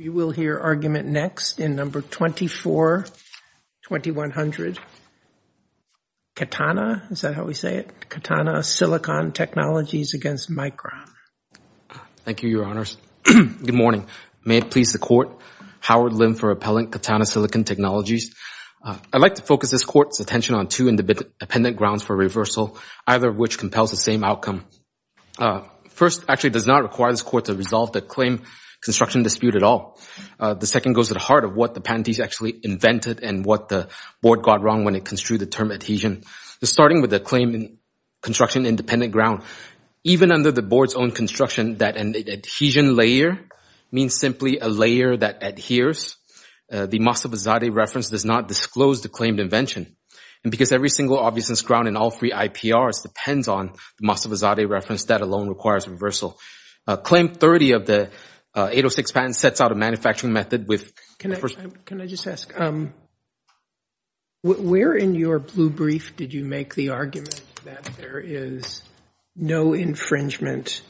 We will hear argument next in number 242100, Katana, is that how we say it? Katana Silicon Technologies against Micron. Thank you, Your Honors. Good morning. May it please the Court. Howard Lim for Appellant Katana Silicon Technologies. I'd like to focus this Court's attention on two independent grounds for reversal, either of which compels the same outcome. First, actually, it does not require this Court to resolve the claim construction dispute at all. The second goes to the heart of what the patentees actually invented and what the Board got wrong when it construed the term adhesion. Starting with the claim in construction independent ground, even under the Board's own construction that an adhesion layer means simply a layer that adheres, the Mossovizadeh reference does not disclose the claimed invention. And because every single obviousness ground in all three IPRs depends on the Mossovizadeh reference, that alone requires reversal. Claim 30 of the 806 patent sets out a manufacturing method with... Can I just ask, where in your blue brief did you make the argument that there is no infringement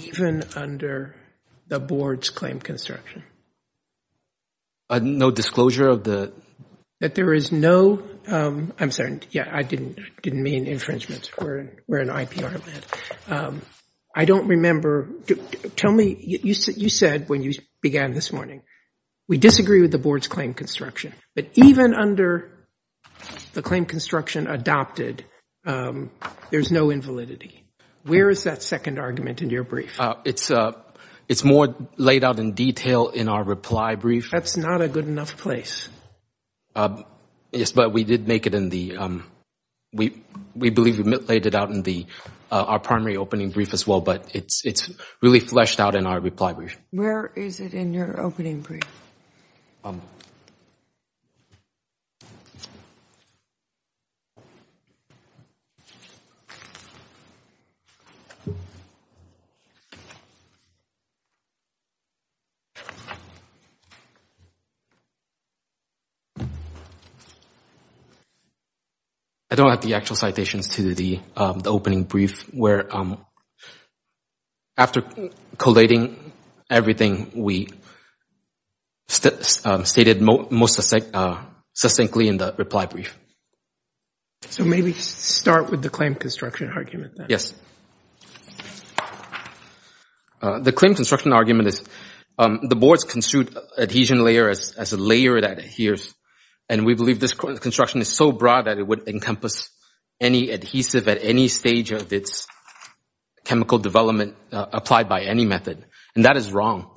even under the Board's claim construction? No disclosure of the... That there is no, I'm sorry, yeah, I didn't mean infringement. We're in IPR land. I don't remember... Tell me, you said when you began this morning, we disagree with the Board's claim construction, but even under the claim construction adopted, there's no invalidity. Where is that second argument in your brief? It's more laid out in detail in our reply brief. That's not a good enough place. Yes, but we did make it in the... We believe we laid it out in our primary opening brief as well, but it's really fleshed out in our reply brief. Where is it in your opening brief? I don't have the actual citations to the opening brief where, after collating everything, we stated most succinctly in the reply brief. So maybe start with the claim construction argument then. Yes. The claim construction argument is the Board's construed adhesion layer as a layer that adheres, and we believe this construction is so broad that it would encompass any adhesive at any stage of its chemical development applied by any method, and that is wrong,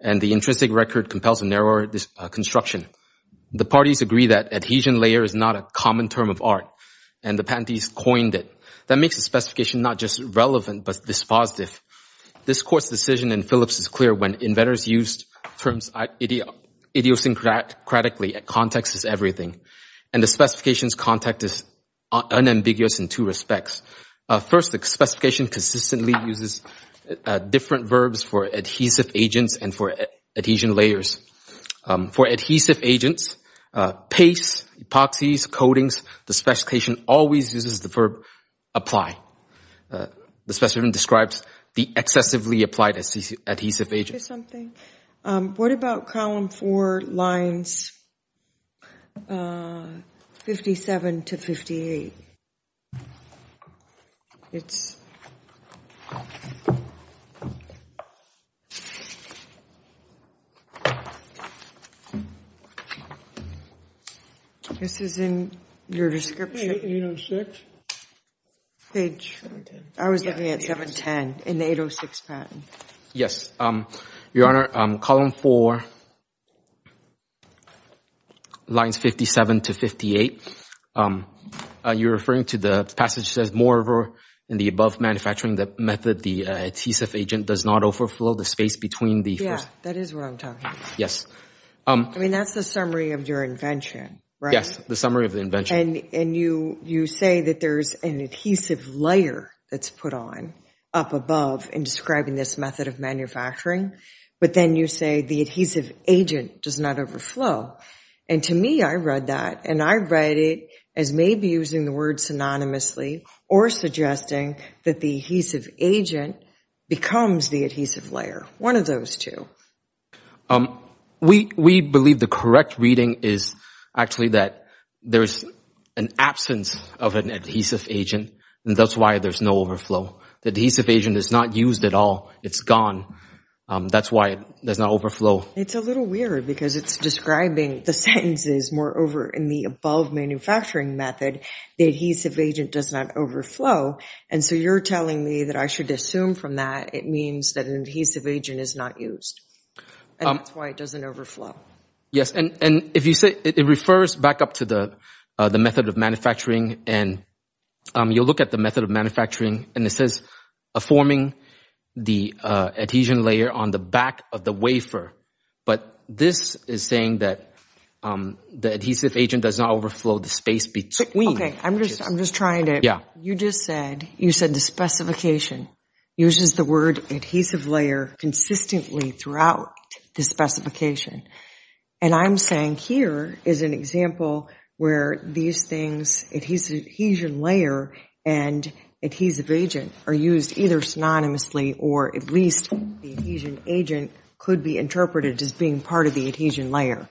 and the intrinsic record compels a narrower construction. The parties agree that adhesion layer is not a common term of art, and the patentees coined it. That makes the specification not just relevant, but dispositive. This Court's decision in Phillips is clear. When inventors used terms idiosyncratically, a context is everything, and the specification's context is unambiguous in two respects. First, the specification consistently uses different verbs for adhesive agents and for adhesion layers. For adhesive agents, pastes, epoxies, coatings, the specification always uses the verb apply. The specification describes the excessively applied adhesive agent. What about column four, lines 57 to 58? This is in your description. Page 17. I was looking at 710 in the 806 patent. Yes. Your Honor, column four, lines 57 to 58, you're referring to the passage that says, moreover, in the above manufacturing method, the adhesive agent does not overflow the space between the first. Yeah, that is what I'm talking about. Yes. I mean, that's the summary of your invention, right? Yes, the summary of the invention. And you say that there's an adhesive layer that's put on up above in describing this method of manufacturing, but then you say the adhesive agent does not overflow. And to me, I read that, and I read it as maybe using the word synonymously or suggesting that the adhesive agent becomes the adhesive layer, one of those two. We believe the correct reading is actually that there's an absence of an adhesive agent, and that's why there's no overflow. The adhesive agent is not used at all. It's gone. That's why it does not overflow. It's a little weird because it's describing the sentences, moreover, in the above manufacturing method, the adhesive agent does not overflow. And so you're telling me that I should assume from that it means that an adhesive agent is not used, and that's why it doesn't overflow. Yes, and if you say it refers back up to the method of manufacturing, and you'll look at the method of manufacturing, and it says forming the adhesion layer on the back of the wafer. But this is saying that the adhesive agent does not overflow the space between. Okay, I'm just trying to, you just said, you said the specification uses the word adhesive layer consistently throughout the specification. And I'm saying here is an example where these things, adhesion layer and adhesive agent are used either synonymously or at least the adhesion agent could be interpreted as being part of the adhesion layer.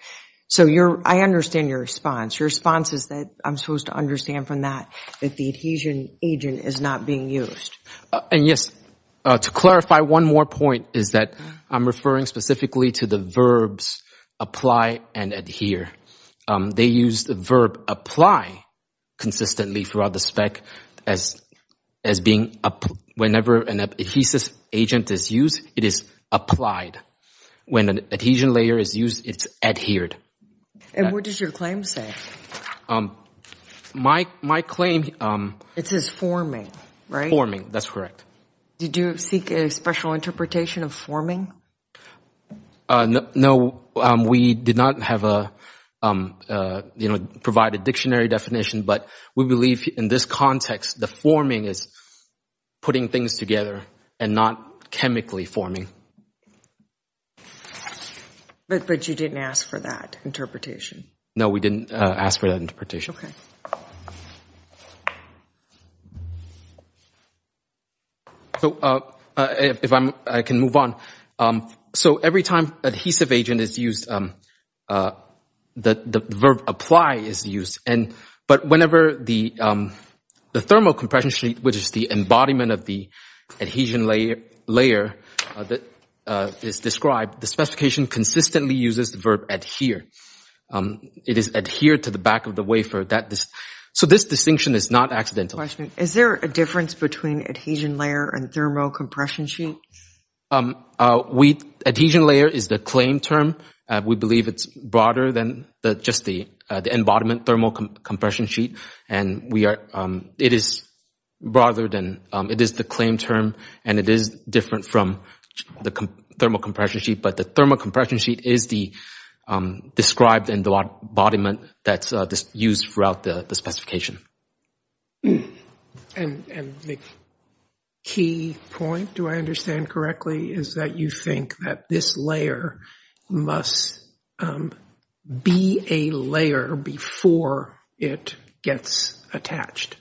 So I understand your response. Your response is that I'm supposed to understand from that that the adhesion agent is not being used. And yes, to clarify one more point is that I'm referring specifically to the verbs apply and adhere. They use the verb apply consistently throughout the spec as being, whenever an adhesive agent is used, it is applied. When an adhesion layer is used, it's adhered. And what does your claim say? My claim... It says forming, right? Forming, that's correct. Did you seek a special interpretation of forming? No, we did not have a, you know, provide a dictionary definition, but we believe in this context the forming is putting things together and not chemically forming. But you didn't ask for that interpretation? No, we didn't ask for that interpretation. Okay. So if I can move on. So every time adhesive agent is used, the verb apply is used. And, but whenever the thermal compression sheet, which is the embodiment of the adhesion layer that is described, the specification consistently uses the verb adhere. It is adhered to the back of the wafer. So this distinction is not accidental. Is there a difference between adhesion layer and thermal compression sheet? Adhesion layer is the claim term. We believe it's broader than just the embodiment thermal compression sheet. And we are, it is broader than, it is the claim term and it is different from the thermal compression sheet. But the thermal compression sheet is the described embodiment that's used throughout the specification. And the key point, do I understand correctly, is that you think that this layer must be a layer before it gets attached?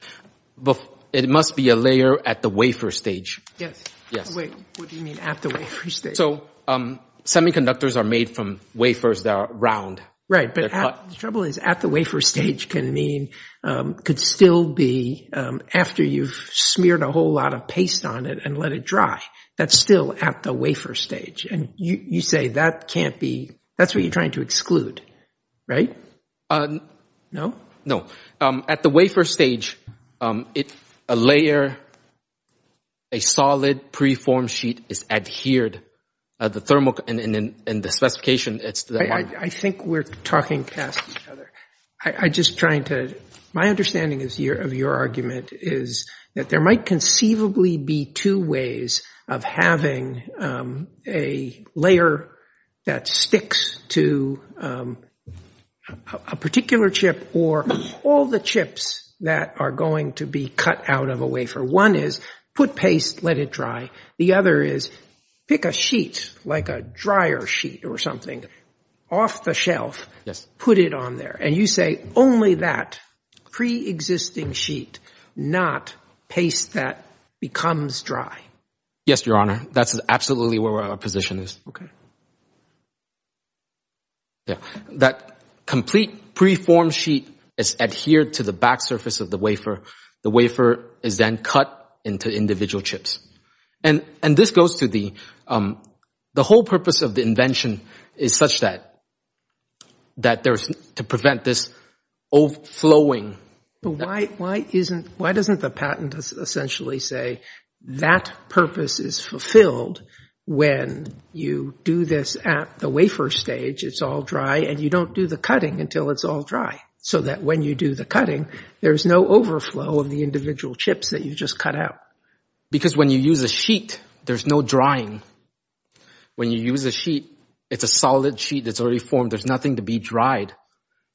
It must be a layer at the wafer stage. Yes. Yes. Wait, what do you mean at the wafer stage? So semiconductors are made from wafers that are round. Right, but the trouble is at the wafer stage can mean, could still be after you've smeared a whole lot of paste on it and let it dry. That's still at the wafer stage. And you say that can't be, that's what you're trying to exclude, right? No? No. At the wafer stage, it's a layer, a solid preform sheet is adhered. The thermal, and the specification, I think we're talking past each other. I'm just trying to, my understanding of your argument is that there might conceivably be two ways of having a layer that sticks to a particular chip or all the chips that are going to be cut out of a wafer. One is put paste, let it dry. The other is pick a sheet, like a dryer sheet or something, off the shelf, put it on there. And you say only that preexisting sheet, not paste that becomes dry. Yes, Your Honor. That's absolutely where our position is. Okay. That complete preform sheet is adhered to the back surface of the wafer. The wafer is then cut into individual chips. And this goes to the whole purpose of the invention is such that to prevent this overflowing. Why doesn't the patent essentially say that purpose is fulfilled when you do this at the wafer stage, it's all dry, and you don't do the cutting until it's all dry. So that when you do the cutting, there's no overflow of the individual chips that you just cut out. Because when you use a sheet, there's no drying. When you use a sheet, it's a solid sheet that's already formed. There's nothing to be dried.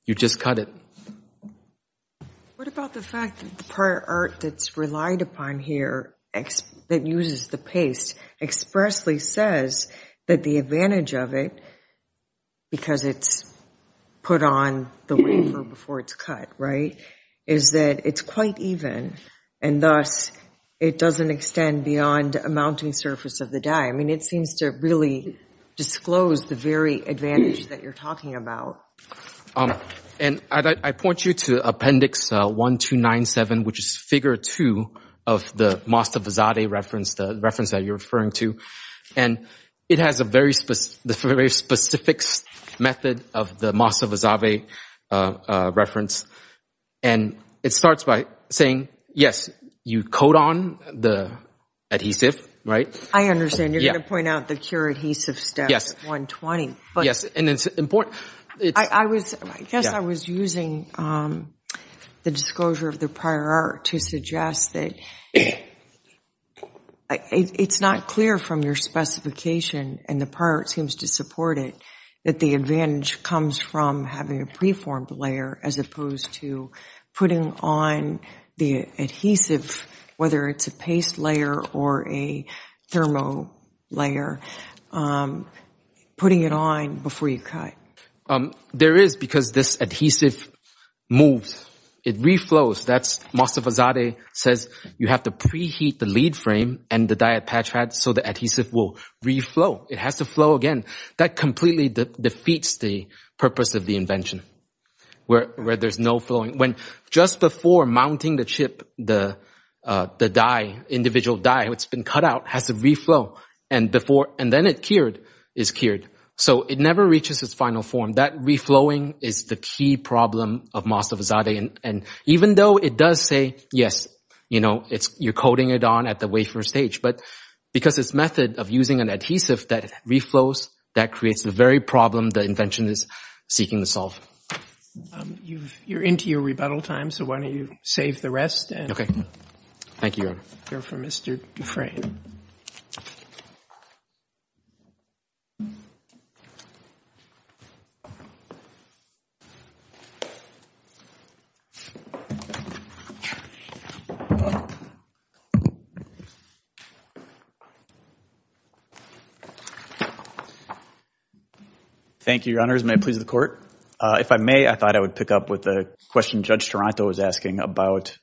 You just cut it. What about the fact that the prior art that's relied upon here that uses the paste expressly says that the advantage of it, because it's put on the wafer before it's cut, right, is that it's quite even. And thus, it doesn't extend beyond a mounting surface of the die. I mean, it seems to really disclose the very advantage that you're talking about. And I point you to Appendix 1297, which is Figure 2 of the Masta Visade reference, the reference that you're referring to. And it has a very specific method of the Masta Visade reference. And it starts by saying, yes, you coat on the adhesive, right? I understand. You're going to point out the cure adhesive step at 120. Yes, and it's important. I guess I was using the disclosure of the prior art to suggest that it's not clear from your specification, and the prior art seems to support it, that the advantage comes from having a preformed layer as opposed to putting on the adhesive, whether it's a paste layer or a thermo layer, putting it on before you cut. There is, because this adhesive moves. It reflows. Masta Visade says you have to preheat the lead frame and the die at patch pad so the adhesive will reflow. It has to flow again. That completely defeats the purpose of the invention, where there's no flowing. Just before mounting the chip, the die, individual die that's been cut out has to reflow. And then it's cured. So it never reaches its final form. That reflowing is the key problem of Masta Visade. And even though it does say, yes, you're coating it on at the wafer stage, but because it's a method of using an adhesive that reflows, that creates the very problem the invention is seeking to solve. You're into your rebuttal time, so why don't you save the rest and go for Mr. Dufresne. Thank you. Thank you, Your Honors. May it please the Court. If I may, I thought I would pick up with a question Judge Toronto was asking about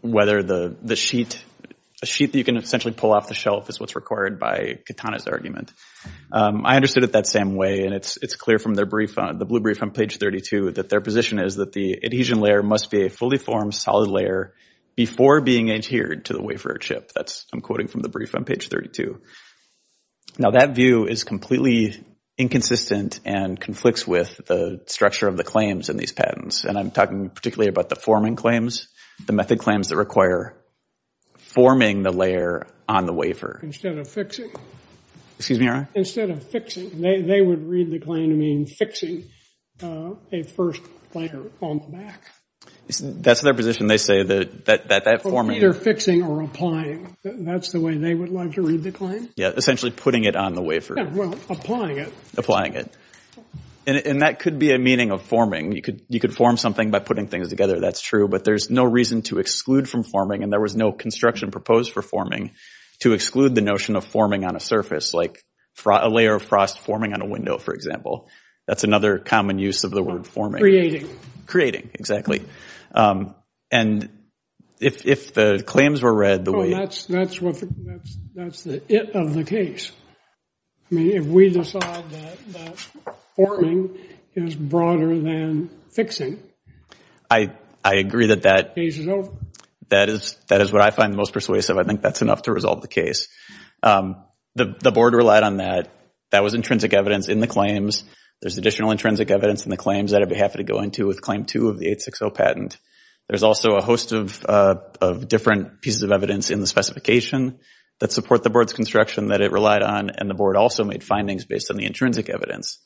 whether the sheet, a sheet that you can essentially pull off the shelf is what's required by Katana's argument. I understood it that same way, and it's clear from their brief, the blue brief on page 32, that their position is that the adhesion layer must be a fully formed solid layer before being adhered to the wafer chip. That's, I'm quoting from the brief on page 32. Now that view is completely inconsistent and conflicts with the structure of the claims in these patents. And I'm talking particularly about the forming claims, the method claims that require forming the layer on the wafer. Instead of fixing. Excuse me, Your Honor. Instead of fixing. They would read the claim to mean fixing a first layer on the back. That's their position. They say that that forming. Either fixing or applying. That's the way they would like to read the claim? Yeah, essentially putting it on the wafer. Yeah, well, applying it. Applying it. And that could be a meaning of forming. You could form something by putting things together. That's true. But there's no reason to exclude from forming, and there was no construction proposed for forming, to exclude the notion of forming on a surface, like a layer of frost forming on a window, for example. That's another common use of the word forming. Creating, exactly. And if the claims were read the way. Oh, that's the it of the case. I mean, if we decide that forming is broader than fixing. I agree that that. Case is over. That is what I find most persuasive. I think that's enough to resolve the case. The Board relied on that. That was intrinsic evidence in the claims. There's additional intrinsic evidence in the claims that I'd be happy to go into with Claim 2 of the 860 patent. There's also a host of different pieces of evidence in the specification that support the Board's construction that it relied on, and the Board also made findings based on the intrinsic evidence,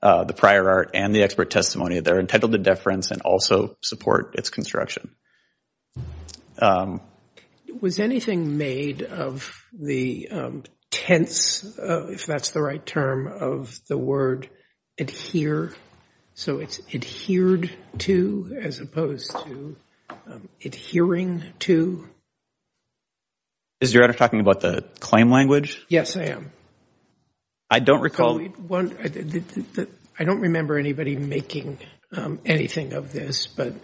the prior art, and the expert testimony. They're entitled to deference and also support its construction. Was anything made of the tense, if that's the right term, of the word adhere? So it's adhered to as opposed to adhering to? Is your editor talking about the claim language? Yes, I am. I don't recall. I don't remember anybody making anything of this, but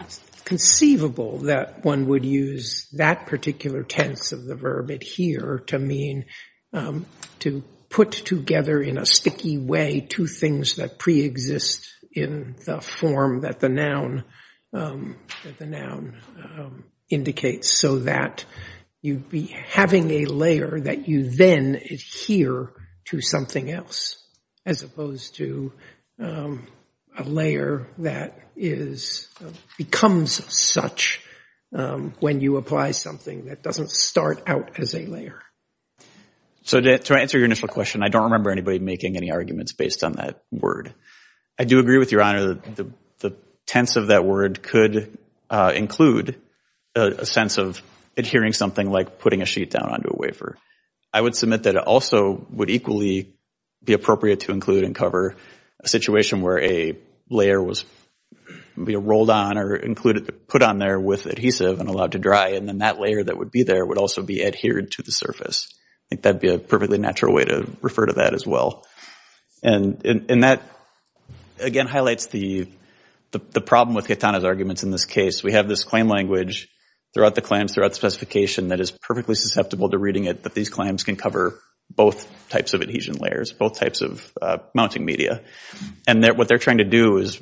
it's conceivable that one would use that particular tense of the verb adhere to mean to put together in a sticky way two things that preexist in the form that the noun indicates, so that you'd be having a layer that you then adhere to something else, as opposed to a layer that becomes such when you apply something that doesn't start out as a layer. So to answer your initial question, I don't remember anybody making any arguments based on that word. I do agree with Your Honor that the tense of that word could include a sense of adhering something like putting a sheet down onto a wafer. I would submit that it also would equally be appropriate to include and cover a situation where a layer was rolled on or put on there with adhesive and allowed to dry, and then that layer that would be there would also be adhered to the surface. I think that would be a perfectly natural way to refer to that as well. And that, again, highlights the problem with Catana's arguments in this case. We have this claim language throughout the claims, throughout the specification, that is perfectly susceptible to reading it, that these claims can cover both types of adhesion layers, both types of mounting media. And what they're trying to do is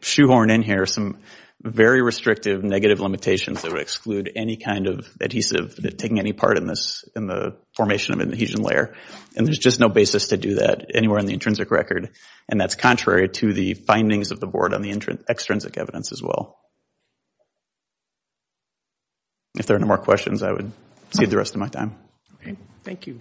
shoehorn in here some very restrictive negative limitations that would exclude any kind of adhesive taking any part in the formation of an adhesion layer. And there's just no basis to do that anywhere in the intrinsic record, and that's contrary to the findings of the board on the extrinsic evidence as well. If there are no more questions, I would cede the rest of my time. Thank you.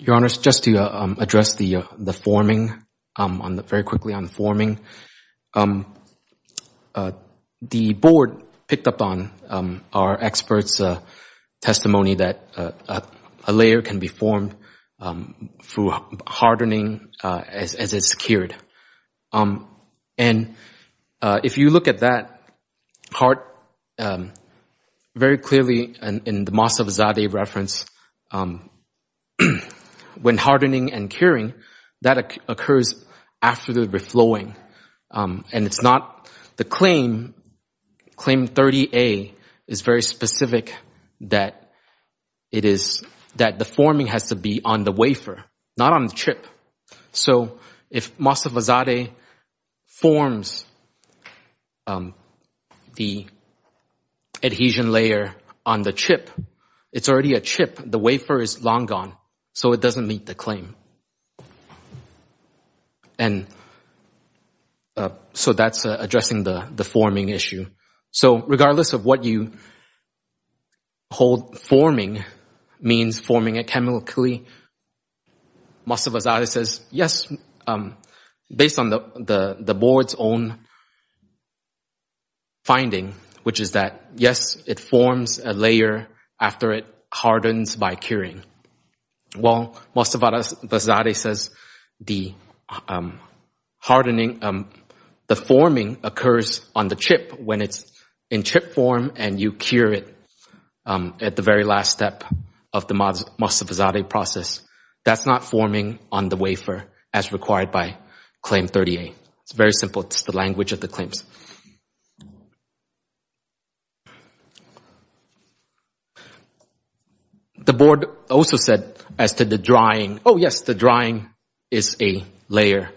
Your Honor, just to address the forming, very quickly on the forming, the board picked up on our experts' testimony that a layer can be formed through hardening as it's cured. And if you look at that part very clearly in the Masafzadeh reference, when hardening and curing, that occurs after the reflowing. And it's not the claim, claim 30A is very specific that the forming has to be on the wafer, not on the chip. So if Masafzadeh forms the adhesion layer on the chip, it's already a chip. The wafer is long gone. So it doesn't meet the claim. And so that's addressing the forming issue. So regardless of what you hold forming means, forming it chemically, Masafzadeh says, yes, based on the board's own finding, which is that, yes, it forms a layer after it hardens by curing. While Masafzadeh says the hardening, the forming occurs on the chip when it's in chip form and you cure it at the very last step of the Masafzadeh process. That's not forming on the wafer as required by claim 30A. It's very simple. It's the language of the claims. The board also said as to the drying, oh, yes, the drying is a layer.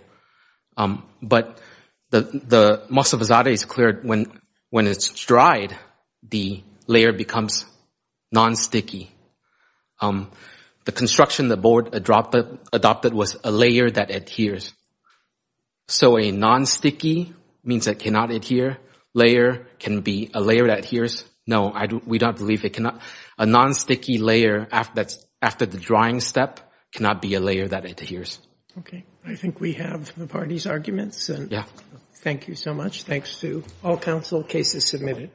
But the Masafzadeh is clear when it's dried, the layer becomes nonsticky. The construction the board adopted was a layer that adheres. So a nonsticky means it cannot adhere. Layer can be a layer that adheres. No, we don't believe it cannot. A nonsticky layer after the drying step cannot be a layer that adheres. Okay. I think we have the parties' arguments. Yeah. Thank you so much. Thanks to all counsel. Case is submitted.